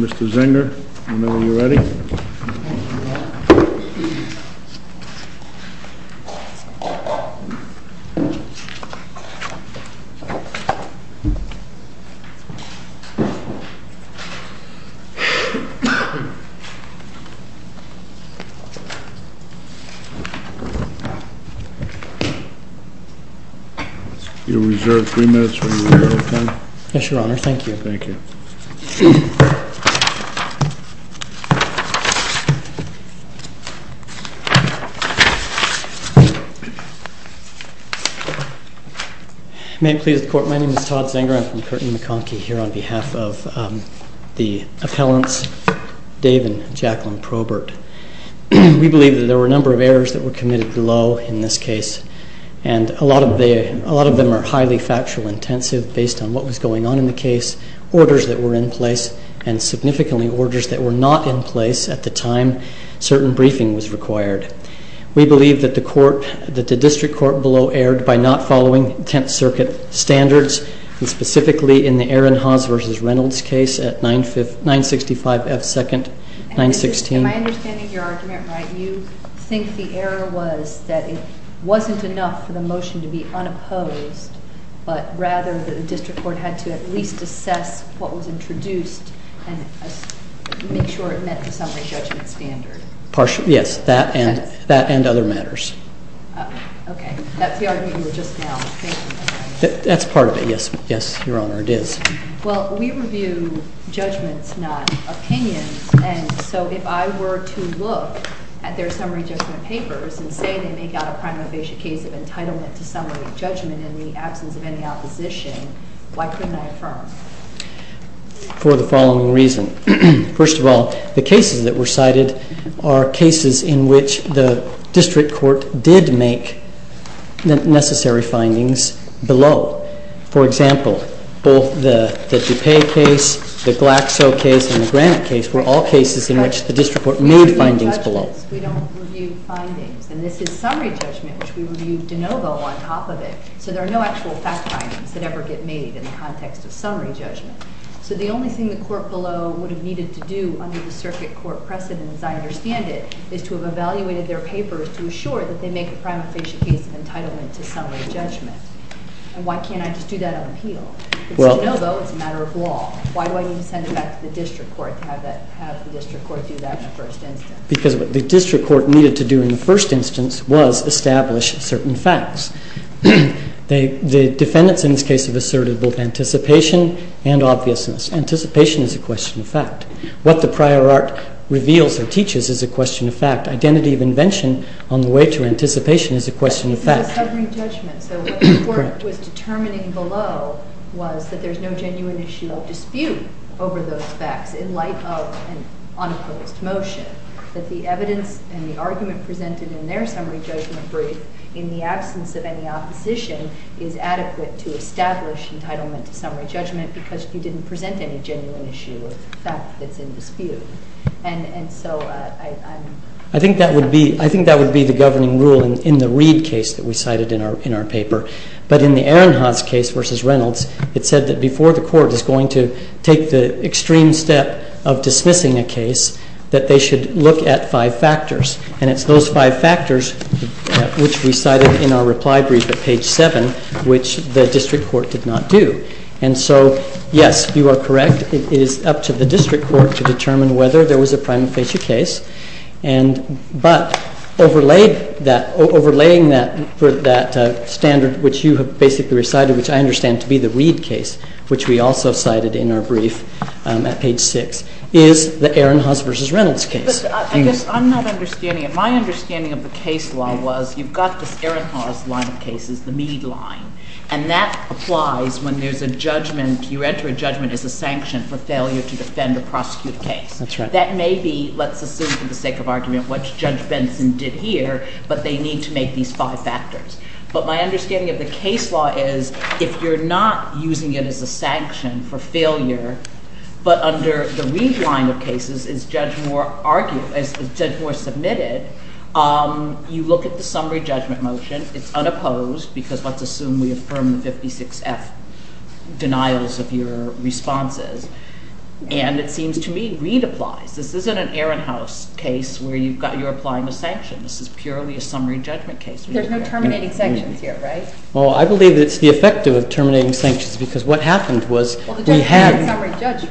Mr. Zenger, whenever you're ready. You're reserved three minutes for your rebuttal, Tony. Yes, Your Honor. Thank you. Thank you. May it please the Court, my name is Todd Zenger. I'm from Curtin-McConkie here on behalf of the appellants, Dave and Jacqueline Probert. We believe that there were a number of errors that were committed below in this case. And a lot of them are highly factual intensive based on what was going on in the case, orders that were in place, and significantly orders that were not in place at the time certain briefing was required. We believe that the District Court below erred by not following Tenth Circuit standards, and specifically in the Aaron Haas v. Reynolds case at 965 F. 2nd, 916. Am I understanding your argument right? You think the error was that it wasn't enough for the motion to be unopposed, but rather the District Court had to at least assess what was introduced and make sure it met the summary judgment standard. Partially, yes. That and other matters. Okay. That's the argument you were just now making. That's part of it, yes. Yes, Your Honor, it is. Well, we review judgments, not opinions, and so if I were to look at their summary judgment papers and say they make out a prima facie case of entitlement to summary judgment in the absence of any opposition, why couldn't I affirm? For the following reason. First of all, the cases that were cited are cases in which the District Court did make necessary findings below. For example, both the DuPay case, the Glaxo case, and the Granite case were all cases in which the District Court made findings below. We don't review findings. And this is summary judgment, which we review de novo on top of it, so there are no actual fact findings that ever get made in the context of summary judgment. So the only thing the court below would have needed to do under the circuit court precedent, as I understand it, is to have evaluated their papers to assure that they make a prima facie case of entitlement to summary judgment. And why can't I just do that on appeal? It's de novo. It's a matter of law. Why do I need to send it back to the District Court to have the District Court do that in the first instance? Because what the District Court needed to do in the first instance was establish certain facts. The defendants in this case have asserted both anticipation and obviousness. Anticipation is a question of fact. What the prior art reveals and teaches is a question of fact. Identity of invention on the way to anticipation is a question of fact. It was summary judgment, so what the court was determining below was that there's no genuine issue of dispute over those facts in light of an unopposed motion, that the evidence and the argument presented in their summary judgment brief in the absence of any opposition is adequate to establish entitlement to summary judgment because you didn't present any genuine issue of fact that's in dispute. And so I'm... I think that would be the governing rule in the Reid case that we cited in our paper. But in the Ehrenhaus case versus Reynolds, it said that before the court is going to take the extreme step of dismissing a case, that they should look at five factors. And it's those five factors which we cited in our reply brief at page 7, which the district court did not do. And so, yes, you are correct. It is up to the district court to determine whether there was a prima facie case. But overlaying that standard which you have basically recited, which I understand to be the Reid case, which we also cited in our brief at page 6, is the Ehrenhaus versus Reynolds case. But I guess I'm not understanding it. My understanding of the case law was you've got this Ehrenhaus line of cases, the Mead line, and that applies when there's a judgment, you enter a judgment as a sanction for failure to defend a prosecuted case. That's right. That may be, let's assume for the sake of argument, what Judge Benson did here, but they need to make these five factors. But my understanding of the case law is if you're not using it as a sanction for failure, but under the Reid line of cases, as Judge Moore submitted, you look at the summary judgment motion. It's unopposed because let's assume we affirm the 56F denials of your responses. And it seems to me Reid applies. This isn't an Ehrenhaus case where you're applying a sanction. This is purely a summary judgment case. There's no terminating sanctions here, right? Well, I believe it's the effect of terminating sanctions because what happened was we had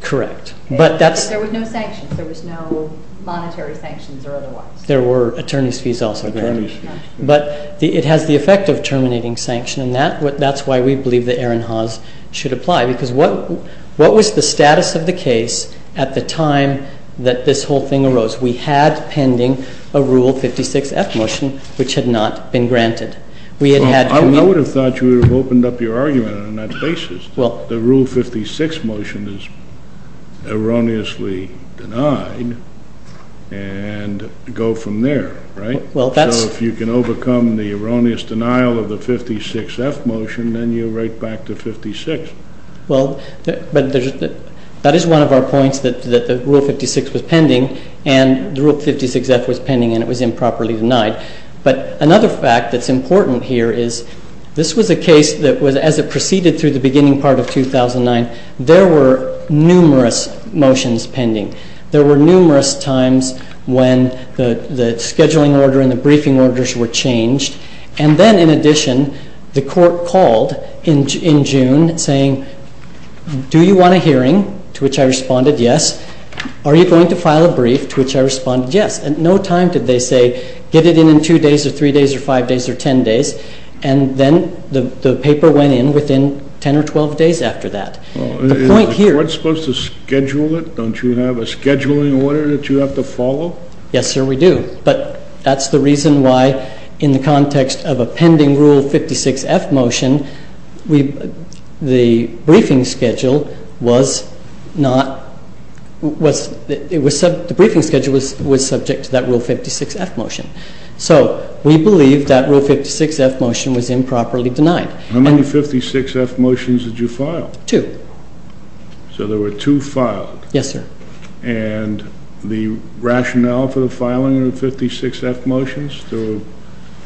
Correct. There were no sanctions. There was no monetary sanctions or otherwise. There were attorneys' fees also granted. But it has the effect of terminating sanctions, and that's why we believe the Ehrenhaus should apply because what was the status of the case at the time that this whole thing arose? We had pending a Rule 56F motion which had not been granted. I would have thought you would have opened up your argument on that basis. The Rule 56 motion is erroneously denied, and go from there, right? So if you can overcome the erroneous denial of the 56F motion, then you're right back to 56. Well, that is one of our points that the Rule 56 was pending, and the Rule 56F was pending, and it was improperly denied. But another fact that's important here is this was a case that was, as it proceeded through the beginning part of 2009, there were numerous motions pending. There were numerous times when the scheduling order and the briefing orders were changed. And then, in addition, the court called in June saying, do you want a hearing? To which I responded, yes. Are you going to file a brief? To which I responded, yes. At no time did they say, get it in in two days or three days or five days or ten days. And then the paper went in within 10 or 12 days after that. The point here — Well, is the court supposed to schedule it? Don't you have a scheduling order that you have to follow? Yes, sir, we do. But that's the reason why, in the context of a pending Rule 56F motion, the briefing schedule was subject to that Rule 56F motion. So we believe that Rule 56F motion was improperly denied. How many 56F motions did you file? Two. So there were two filed. Yes, sir. And the rationale for the filing of the 56F motions? They were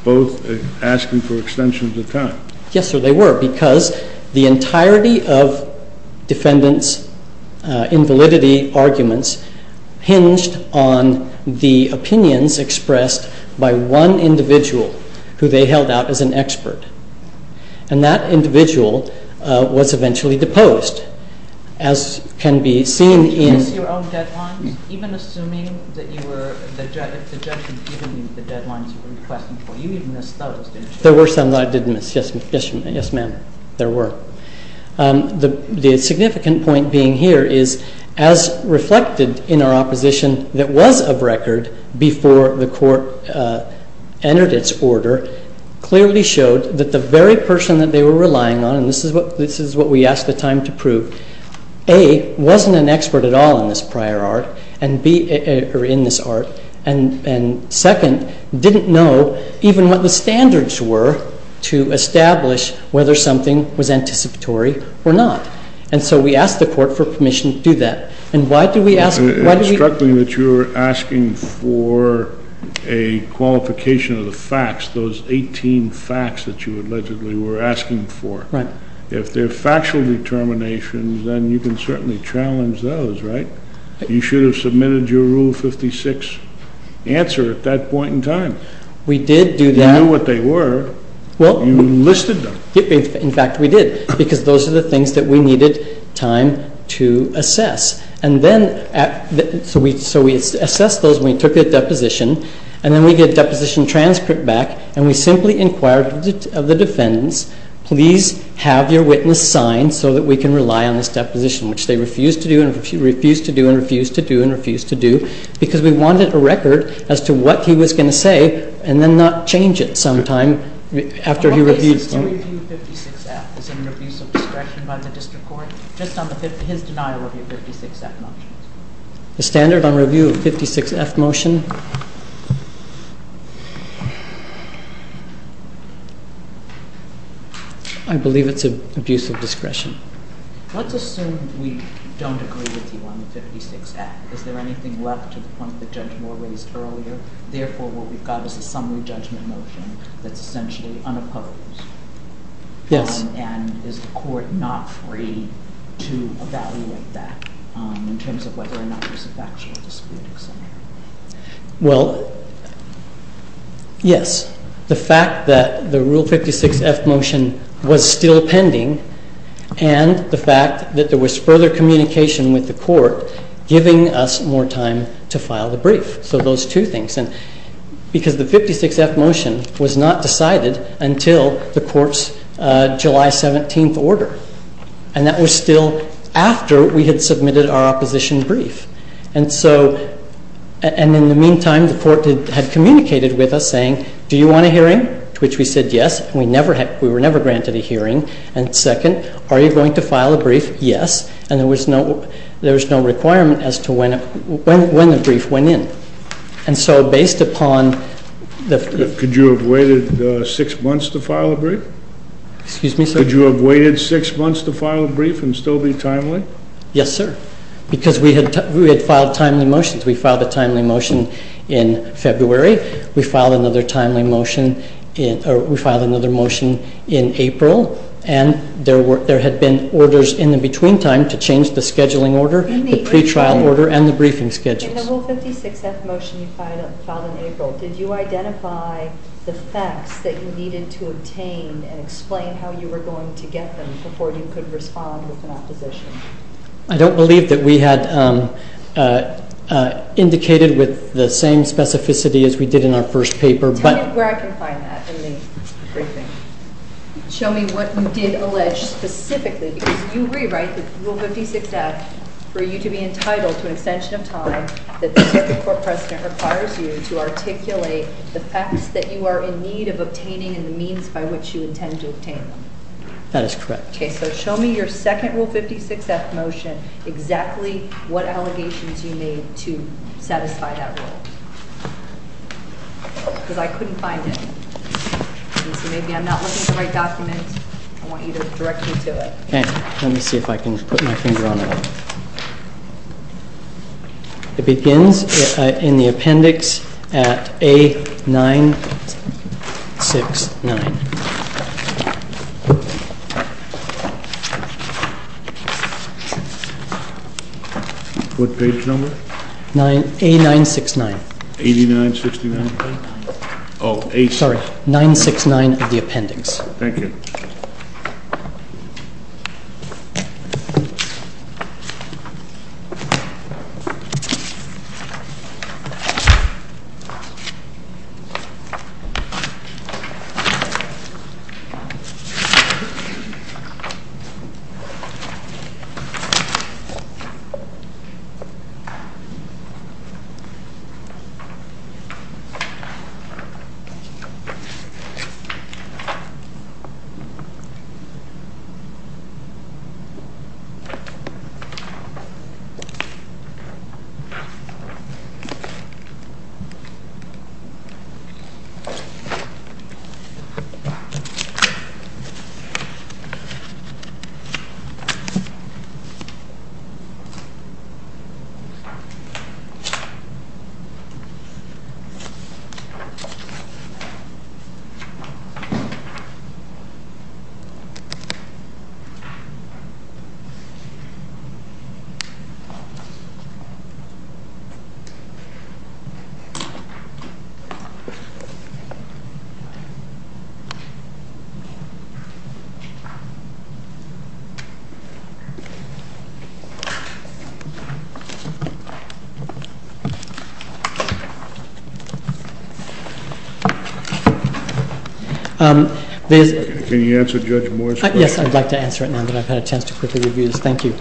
both asking for extensions of time. Yes, sir, they were. because the entirety of defendants' invalidity arguments hinged on the opinions expressed by one individual who they held out as an expert. And that individual was eventually deposed, as can be seen in — Did you miss your own deadlines? Even assuming that the judge had given you the deadlines you were requesting for, you even missed those, didn't you? There were some that I did miss, yes, ma'am. There were. The significant point being here is, as reflected in our opposition, that was of record before the Court entered its order, clearly showed that the very person that they were relying on, and this is what we asked the time to prove, A, wasn't an expert at all in this prior art, or in this art, and, second, didn't know even what the standards were to establish whether something was anticipatory or not. And so we asked the Court for permission to do that. And why did we ask — It struck me that you were asking for a qualification of the facts, those 18 facts that you allegedly were asking for. Right. If they're factual determinations, then you can certainly challenge those, right? You should have submitted your Rule 56 answer at that point in time. We did do that. If you knew what they were, you listed them. In fact, we did, because those are the things that we needed time to assess. And then, so we assessed those when we took a deposition, and then we get a deposition transcript back, and we simply inquired of the defendants, please have your witness signed so that we can rely on this deposition, which they refused to do and refused to do and refused to do and refused to do, because we wanted a record as to what he was going to say and then not change it sometime after he reviewed — What basis to review 56F? Is it an abuse of discretion by the district court? Just on his denial of your 56F motion. The standard on review of 56F motion? I believe it's an abuse of discretion. Let's assume we don't agree with you on the 56F. Is there anything left to the point that Judge Moore raised earlier? Therefore, what we've got is a summary judgment motion that's essentially unopposed. Yes. And is the court not free to evaluate that in terms of whether or not there's a factual disputing scenario? Well, yes. The fact that the Rule 56F motion was still pending and the fact that there was further communication with the court giving us more time to file the brief. So those two things. Because the 56F motion was not decided until the court's July 17th order. And that was still after we had submitted our opposition brief. And in the meantime, the court had communicated with us saying, do you want a hearing? To which we said yes. We were never granted a hearing. And second, are you going to file a brief? Yes. And there was no requirement as to when the brief went in. And so based upon the brief. Could you have waited six months to file a brief? Excuse me, sir? Could you have waited six months to file a brief and still be timely? Yes, sir. Because we had filed timely motions. We filed a timely motion in February. We filed another motion in April. And there had been orders in the between time to change the scheduling order, the pretrial order, and the briefing schedules. In the rule 56F motion you filed in April, did you identify the facts that you needed to obtain and explain how you were going to get them before you could respond with an opposition? I don't believe that we had indicated with the same specificity as we did in our first paper. Tell me where I can find that in the briefing. Show me what you did allege specifically because you rewrite the rule 56F for you to be entitled to an extension of time that the typical court precedent requires you to articulate the facts that you are in need of obtaining and the means by which you intend to obtain them. That is correct. Okay. So show me your second rule 56F motion, exactly what allegations you made to satisfy that rule. Because I couldn't find it. Maybe I'm not looking at the right document. I want you to direct me to it. Okay. Let me see if I can put my finger on it. It begins in the appendix at A969. What page number? A969. 8969? Sorry, 969 of the appendix. Thank you. Thank you. Thank you. Can you answer Judge Moore's question? Yes, I'd like to answer it now, but I've had a chance to quickly review this. Thank you.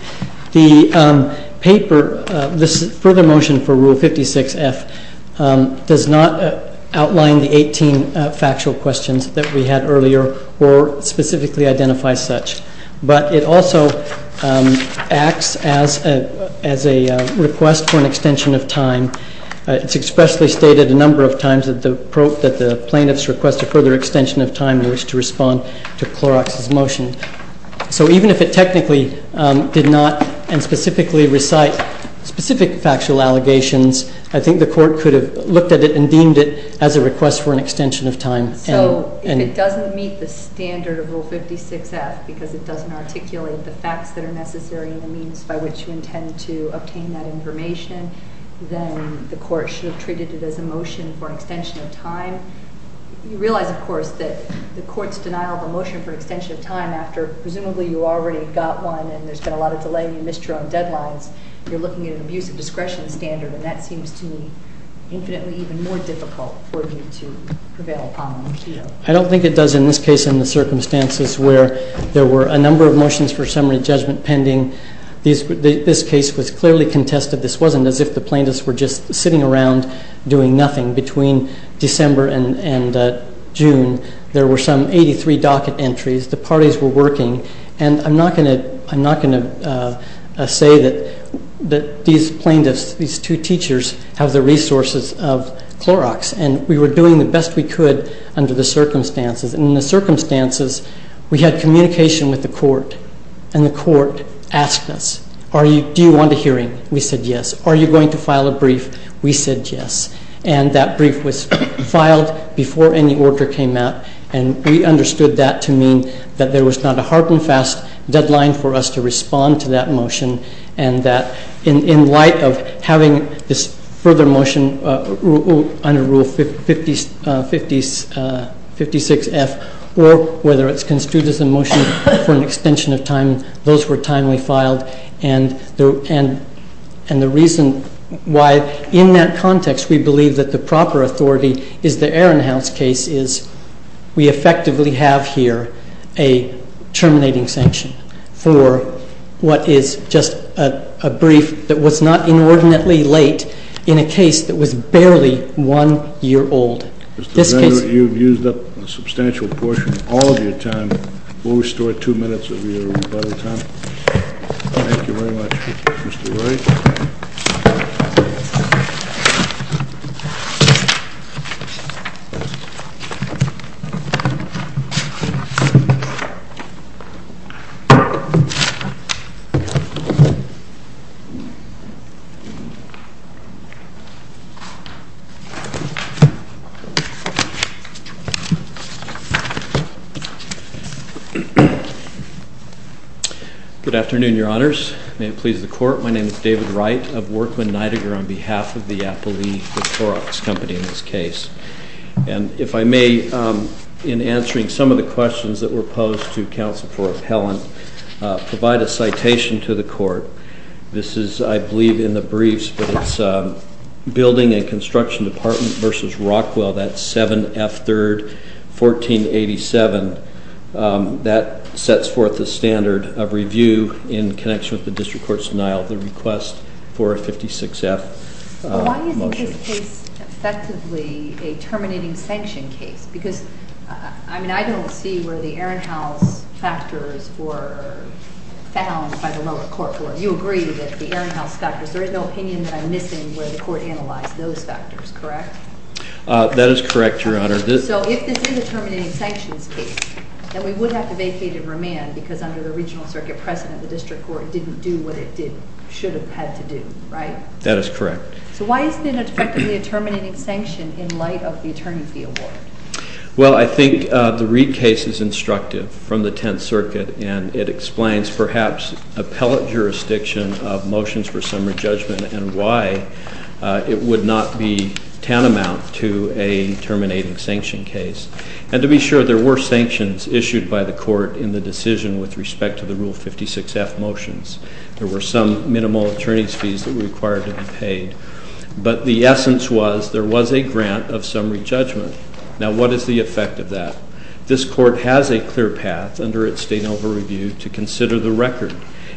The paper, this further motion for rule 56F, does not outline the 18 factual questions that we had earlier or specifically identify such. But it also acts as a request for an extension of time. It's expressly stated a number of times that the plaintiff's request a further extension of time in which to respond to Clorox's motion. So even if it technically did not and specifically recite specific factual allegations, I think the court could have looked at it and deemed it as a request for an extension of time. So if it doesn't meet the standard of rule 56F because it doesn't articulate the facts that are necessary and the means by which you intend to obtain that information, then the court should have treated it as a motion for extension of time. You realize, of course, that the court's denial of a motion for extension of time after presumably you already got one and there's been a lot of delay and you missed your own deadlines, you're looking at an abuse of discretion standard and that seems to me infinitely even more difficult for you to prevail upon. I don't think it does in this case in the circumstances where there were a number of motions for summary judgment pending. This case was clearly contested. This wasn't as if the plaintiffs were just sitting around doing nothing. Between December and June, there were some 83 docket entries. The parties were working, and I'm not going to say that these plaintiffs, these two teachers, have the resources of Clorox, and we were doing the best we could under the circumstances. In the circumstances, we had communication with the court, and the court asked us, do you want a hearing? We said yes. Are you going to file a brief? We said yes. And that brief was filed before any order came out, and we understood that to mean that there was not a hard and fast deadline for us to respond to that motion and that in light of having this further motion under Rule 56F or whether it's construed as a motion for an extension of time, those were timely filed. And the reason why, in that context, we believe that the proper authority is the Ehrenhaus case is we effectively have here a terminating sanction for what is just a brief that was not inordinately late in a case that was barely one year old. Mr. Zender, you've used up a substantial portion of all of your time. We'll restore two minutes of your body time. Thank you very much, Mr. Wright. Good afternoon, Your Honors. May it please the Court. My name is David Wright of Workman Nidegger on behalf of the Applebee, the Clorox company in this case. And if I may, in answering some of the questions that were posed to Counsel for Appellant, provide a citation to the Court. This is, I believe, in the briefs, but it's Building and Construction Department v. Rockwell, that's 7F 3rd, 1487. That sets forth the standard of review in connection with the District Court's denial of the request for a 56F motion. Why isn't this case effectively a terminating sanction case? Because, I mean, I don't see where the Ehrenhaus factors were found by the lower court. You agree that the Ehrenhaus factors, there is no opinion that I'm missing where the Court analyzed those factors, correct? That is correct, Your Honor. So if this is a terminating sanctions case, then we would have to vacate and remand because under the Regional Circuit precedent, the District Court didn't do what it should have had to do, right? That is correct. So why isn't it effectively a terminating sanction in light of the attorney fee award? Well, I think the Reid case is instructive from the Tenth Circuit, and it explains, perhaps, appellate jurisdiction of motions for summary judgment and why it would not be tantamount to a terminating sanction case. And to be sure, there were sanctions issued by the Court in the decision with respect to the Rule 56F motions. There were some minimal attorney's fees that were required to be paid. But the essence was there was a grant of summary judgment. Now, what is the effect of that? This Court has a clear path under its state over-review to consider the record,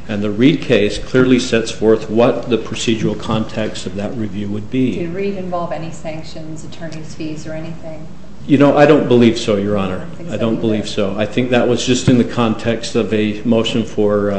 and the Reid case clearly sets forth what the procedural context of that review would be. Did Reid involve any sanctions, attorney's fees, or anything? You know, I don't believe so, Your Honor. I don't believe so. I think that was just in the context of a motion for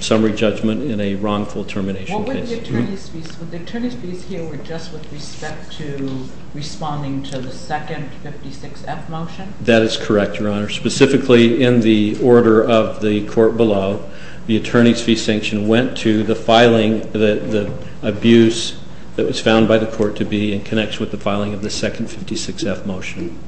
summary judgment in a wrongful termination case. What were the attorney's fees? Were the attorney's fees here just with respect to responding to the second 56F motion? That is correct, Your Honor. Specifically, in the order of the Court below, the attorney's fee sanction went to the filing, the abuse that was found by the Court to be in connection with the filing of the second 56F motion.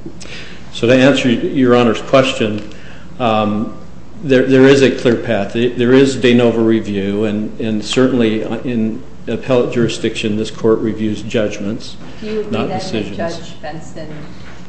So to answer Your Honor's question, there is a clear path. There is de novo review, and certainly in appellate jurisdiction, this Court reviews judgments, not decisions. Do you agree that Judge Benson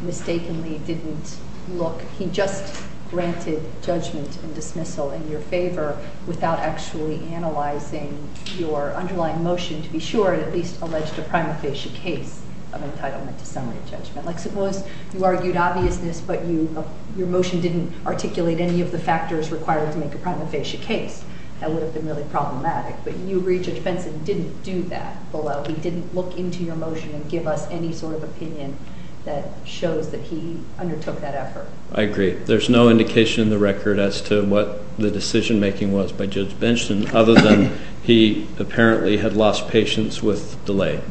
mistakenly didn't look? He just granted judgment and dismissal in your favor without actually analyzing your underlying motion to be sure it at least alleged a prima facie case of entitlement to summary judgment. Like suppose you argued obviousness, but your motion didn't articulate any of the factors required to make a prima facie case. That would have been really problematic. But you agree Judge Benson didn't do that below. He didn't look into your motion and give us any sort of opinion that shows that he undertook that effort. I agree. There's no indication in the record as to what the decision-making was by Judge Benson other than he apparently had lost patience with delay.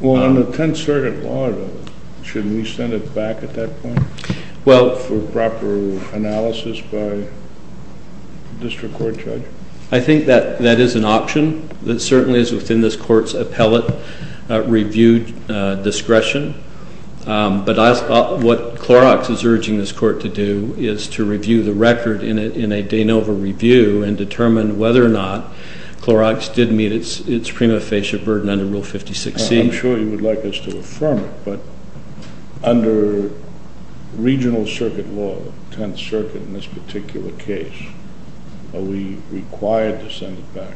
Well, on the 10th Circuit Law, shouldn't he send it back at that point for proper analysis by a district court judge? I think that that is an option. It certainly is within this Court's appellate review discretion. But what Clorox is urging this Court to do is to review the record in a de novo review and determine whether or not Clorox did meet its prima facie burden under Rule 56C. I'm sure you would like us to affirm it, but under Regional Circuit Law, 10th Circuit in this particular case, are we required to send it back,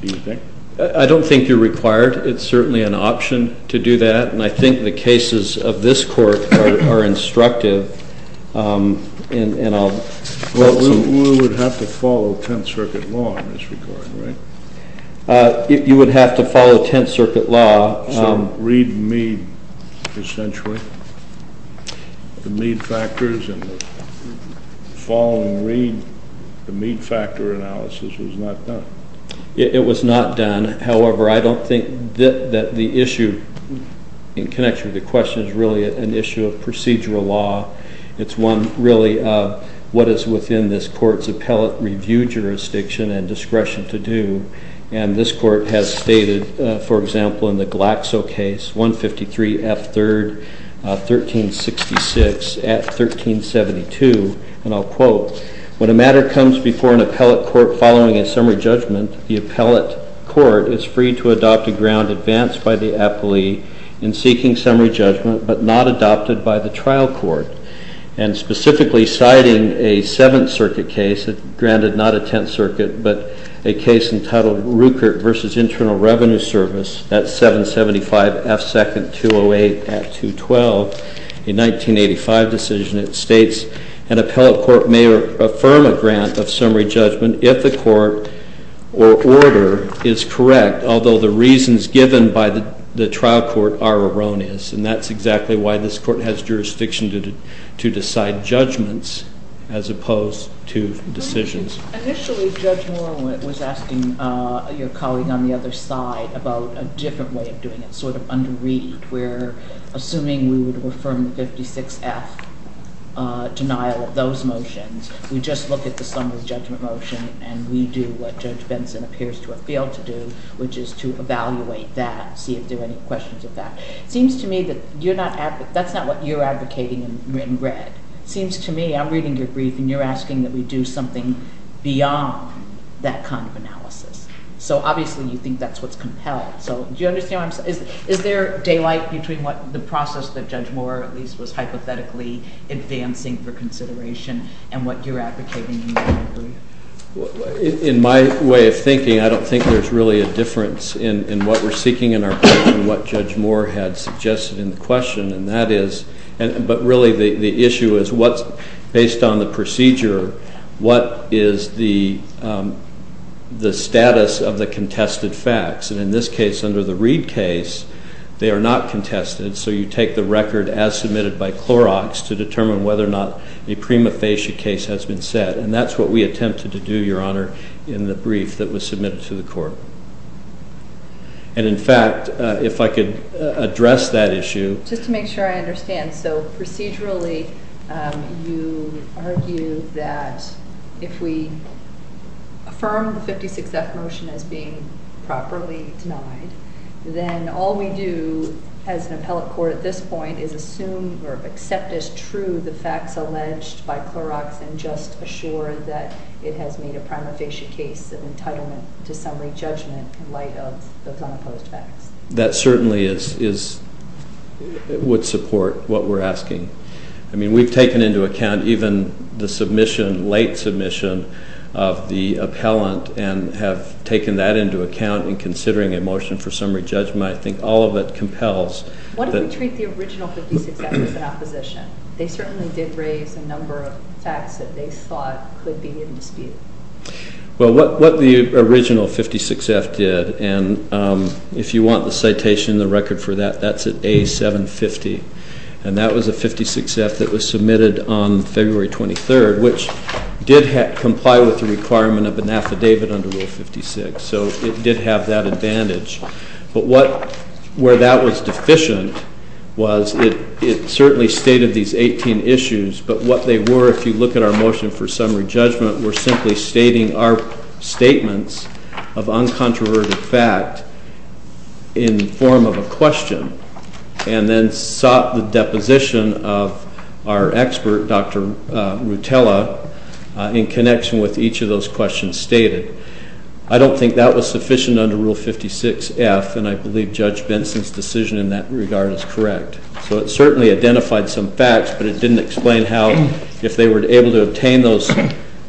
do you think? I don't think you're required. It's certainly an option to do that. And I think the cases of this Court are instructive. Well, we would have to follow 10th Circuit Law in this regard, right? You would have to follow 10th Circuit Law. So read and read, essentially? The read factors and the follow and read, the read factor analysis was not done? It was not done. However, I don't think that the issue in connection with the question is really an issue of procedural law. It's one really of what is within this Court's appellate review jurisdiction and discretion to do. And this Court has stated, for example, in the Glaxo case, 153 F. 3rd, 1366, at 1372, and I'll quote, When a matter comes before an appellate court following a summary judgment, the appellate court is free to adopt a ground advanced by the appellee in seeking summary judgment, but not adopted by the trial court. And specifically, citing a 7th Circuit case, granted not a 10th Circuit, but a case entitled Rueckert v. Internal Revenue Service at 775 F. 2nd, 208, at 212, a 1985 decision, it states, An appellate court may affirm a grant of summary judgment if the court or order is correct, although the reasons given by the trial court are erroneous. And that's exactly why this Court has jurisdiction to decide judgments as opposed to decisions. Initially, Judge Moore was asking your colleague on the other side about a different way of doing it, sort of under read, where assuming we would affirm the 56 F denial of those motions, we just look at the summary judgment motion and we do what Judge Benson appears to have failed to do, which is to evaluate that, see if there are any questions of that. It seems to me that that's not what you're advocating in red. It seems to me, I'm reading your brief, and you're asking that we do something beyond that kind of analysis. So obviously you think that's what's compelled. Do you understand what I'm saying? Is there daylight between the process that Judge Moore, at least, was hypothetically advancing for consideration and what you're advocating in your brief? In my way of thinking, I don't think there's really a difference in what we're seeking in our question and what Judge Moore had suggested in the question, but really the issue is, based on the procedure, what is the status of the contested facts? And in this case, under the Reed case, they are not contested, so you take the record as submitted by Clorox to determine whether or not a prima facie case has been set, and that's what we attempted to do, Your Honor, in the brief that was submitted to the court. And in fact, if I could address that issue. Just to make sure I understand, so procedurally you argue that if we affirm the 56F motion as being properly denied, then all we do as an appellate court at this point is assume or accept as true the facts alleged by Clorox and just assure that it has made a prima facie case of entitlement to summary judgment in light of those unopposed facts. That certainly would support what we're asking. I mean, we've taken into account even the late submission of the appellant and have taken that into account in considering a motion for summary judgment. I think all of it compels... What if we treat the original 56F as an opposition? They certainly did raise a number of facts that they thought could be in dispute. Well, what the original 56F did, and if you want the citation and the record for that, that's at A750, and that was a 56F that was submitted on February 23rd, which did comply with the requirement of an affidavit under Rule 56, so it did have that advantage. But where that was deficient was it certainly stated these 18 issues, but what they were, if you look at our motion for summary judgment, were simply stating our statements of uncontroverted fact in the form of a question and then sought the deposition of our expert, Dr. Rutella, in connection with each of those questions stated. I don't think that was sufficient under Rule 56F, and I believe Judge Benson's decision in that regard is correct. So it certainly identified some facts, but it didn't explain how, if they were able to obtain those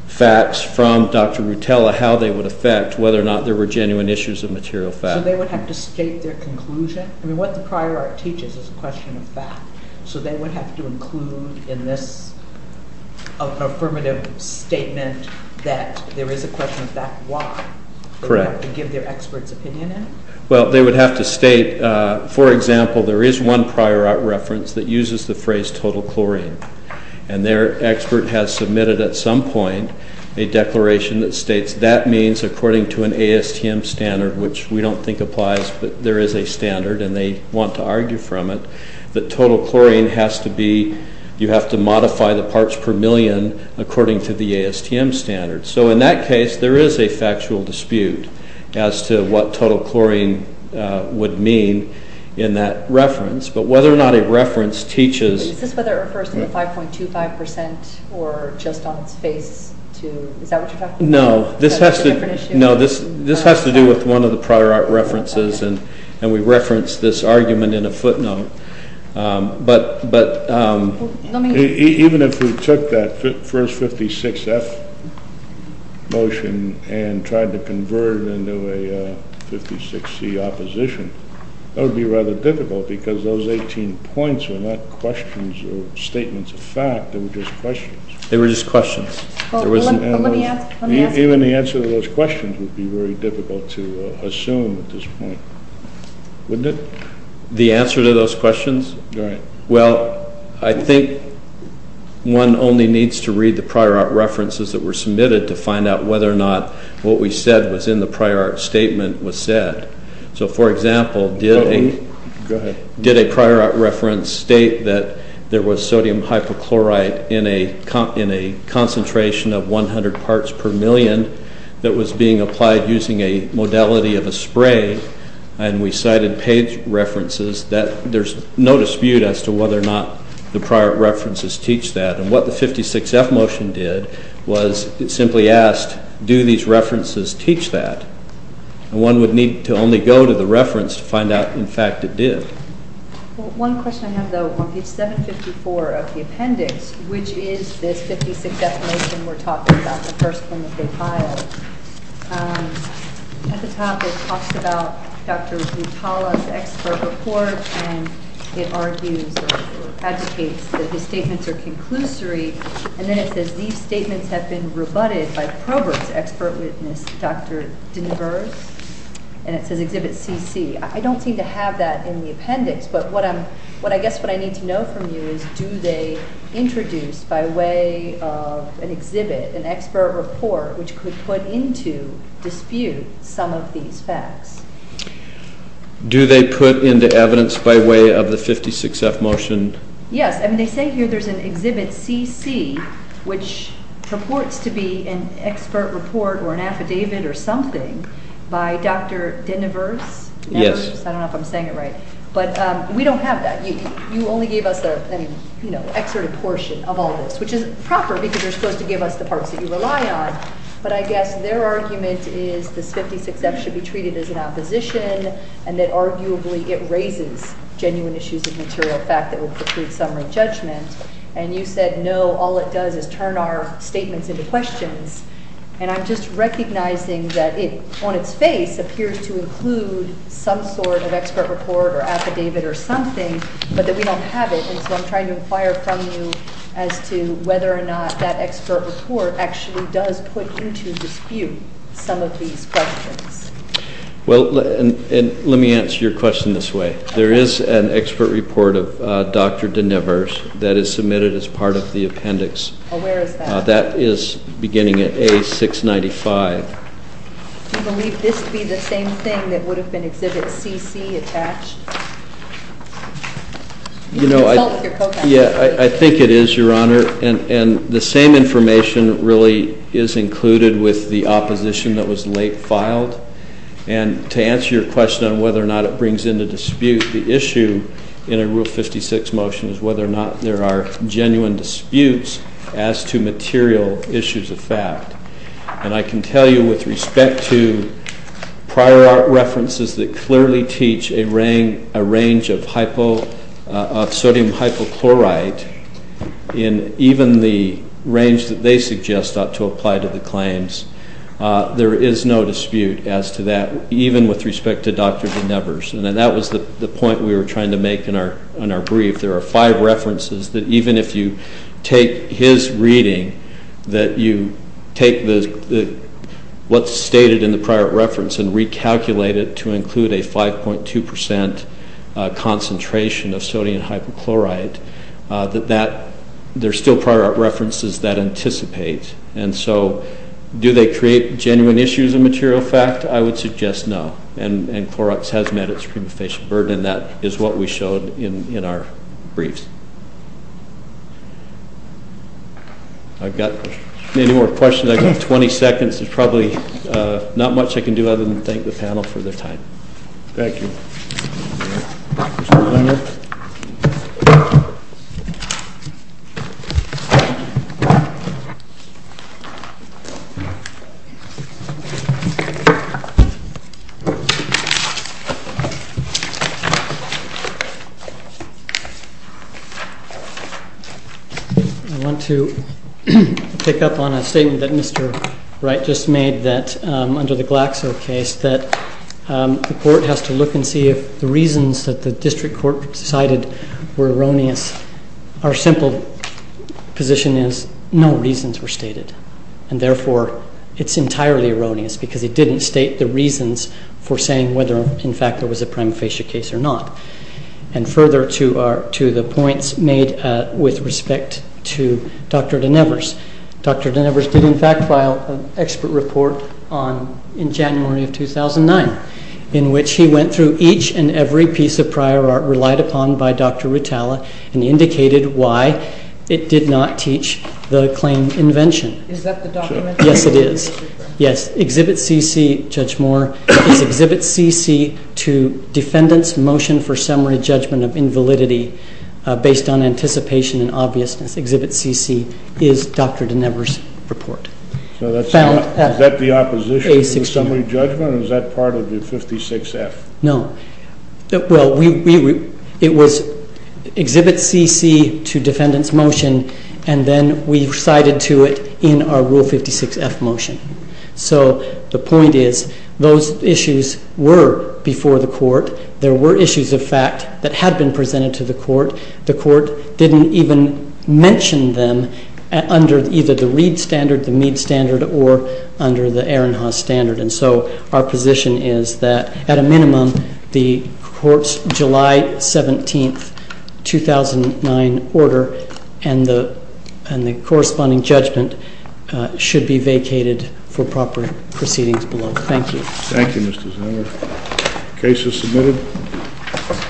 facts from Dr. Rutella, how they would affect whether or not there were genuine issues of material fact. So they would have to state their conclusion? I mean, what the prior art teaches is a question of fact, so they would have to include in this affirmative statement that there is a question of fact, why? Correct. They would have to give their expert's opinion in it? Well, they would have to state, for example, there is one prior art reference that uses the phrase total chlorine, and their expert has submitted at some point a declaration that states that means, according to an ASTM standard, which we don't think applies, but there is a standard, and they want to argue from it, that total chlorine has to be, you have to modify the parts per million according to the ASTM standard. So in that case, there is a factual dispute as to what total chlorine would mean in that reference. But whether or not a reference teaches... Is that what you're talking about? No, this has to do with one of the prior art references, and we reference this argument in a footnote. Even if we took that first 56F motion and tried to convert it into a 56C opposition, that would be rather difficult, because those 18 points were not questions or statements of fact, they were just questions. They were just questions. Even the answer to those questions would be very difficult to assume at this point. Wouldn't it? The answer to those questions? Right. Well, I think one only needs to read the prior art references that were submitted to find out whether or not what we said was in the prior art statement was said. So, for example, did a prior art reference state that there was sodium hypochlorite in a concentration of 100 parts per million that was being applied using a modality of a spray, and we cited page references, that there's no dispute as to whether or not the prior art references teach that. And what the 56F motion did was it simply asked, do these references teach that? And one would need to only go to the reference to find out, in fact, it did. One question I have, though. On page 754 of the appendix, which is this 56F motion we're talking about, the first one that they filed, at the top it talks about Dr. Guttala's expert report, and it argues or advocates that his statements are conclusory, and then it says, these statements have been rebutted by Probert's expert witness, Dr. DeNiverse, and it says exhibit CC. I don't seem to have that in the appendix, but I guess what I need to know from you is, do they introduce by way of an exhibit, an expert report, which could put into dispute some of these facts? Do they put into evidence by way of the 56F motion? Yes. They say here there's an exhibit CC, which purports to be an expert report or an affidavit or something by Dr. DeNiverse. Yes. I don't know if I'm saying it right. But we don't have that. You only gave us an excerpted portion of all this, which is proper because you're supposed to give us the parts that you rely on, but I guess their argument is this 56F should be treated as an opposition and that arguably it raises genuine issues of material fact that will preclude summary judgment, and you said no, all it does is turn our statements into questions, and I'm just recognizing that it, on its face, appears to include some sort of expert report or affidavit or something, but that we don't have it, and so I'm trying to inquire from you as to whether or not that expert report actually does put into dispute some of these questions. Well, and let me answer your question this way. There is an expert report of Dr. DeNiverse that is submitted as part of the appendix. Oh, where is that? That is beginning at A695. Do you believe this would be the same thing that would have been Exhibit CC attached? Yeah, I think it is, Your Honor, and the same information really is included with the opposition that was late filed, and to answer your question on whether or not it brings into dispute, the issue in a Rule 56 motion is whether or not there are genuine disputes as to material issues of fact, and I can tell you with respect to prior references that clearly teach a range of sodium hypochlorite in even the range that they suggest ought to apply to the claims, there is no dispute as to that, even with respect to Dr. DeNiverse, and that was the point we were trying to make in our brief. There are five references that even if you take his reading, that you take what is stated in the prior reference and recalculate it to include a 5.2% concentration of sodium hypochlorite, that there are still prior references that anticipate, and so do they create genuine issues of material fact? I would suggest no, and Clorox has met its prima facie burden, and that is what we showed in our briefs. I've got many more questions. I've got 20 seconds. There's probably not much I can do other than thank the panel for their time. Thank you. I want to pick up on a statement that Mr. Wright just made that under the Glaxo case that the court has to look and see if the reasons that the district court decided were erroneous. Our simple position is no reasons were stated, and therefore it's entirely erroneous because it didn't state the reasons for saying whether in fact there was a prima facie case or not. And further to the points made with respect to Dr. Denevers, Dr. Denevers did in fact file an expert report in January of 2009 in which he went through each and every piece of prior art relied upon by Dr. Rutala and indicated why it did not teach the claim invention. Is that the document? Yes, it is. Yes, Exhibit CC, Judge Moore, is Exhibit CC to Defendant's Motion for Summary Judgment of Invalidity Based on Anticipation and Obviousness. Exhibit CC is Dr. Denevers' report. Is that the opposition to the summary judgment or is that part of the 56F? No. And then we recited to it in our Rule 56F motion. So the point is those issues were before the court. There were issues of fact that had been presented to the court. The court didn't even mention them under either the Reed standard, the Mead standard, or under the Aaron Haas standard. And so our position is that at a minimum the court's July 17, 2009 order and the corresponding judgment should be vacated for proper proceedings below. Thank you. Thank you, Mr. Zinner. Case is submitted.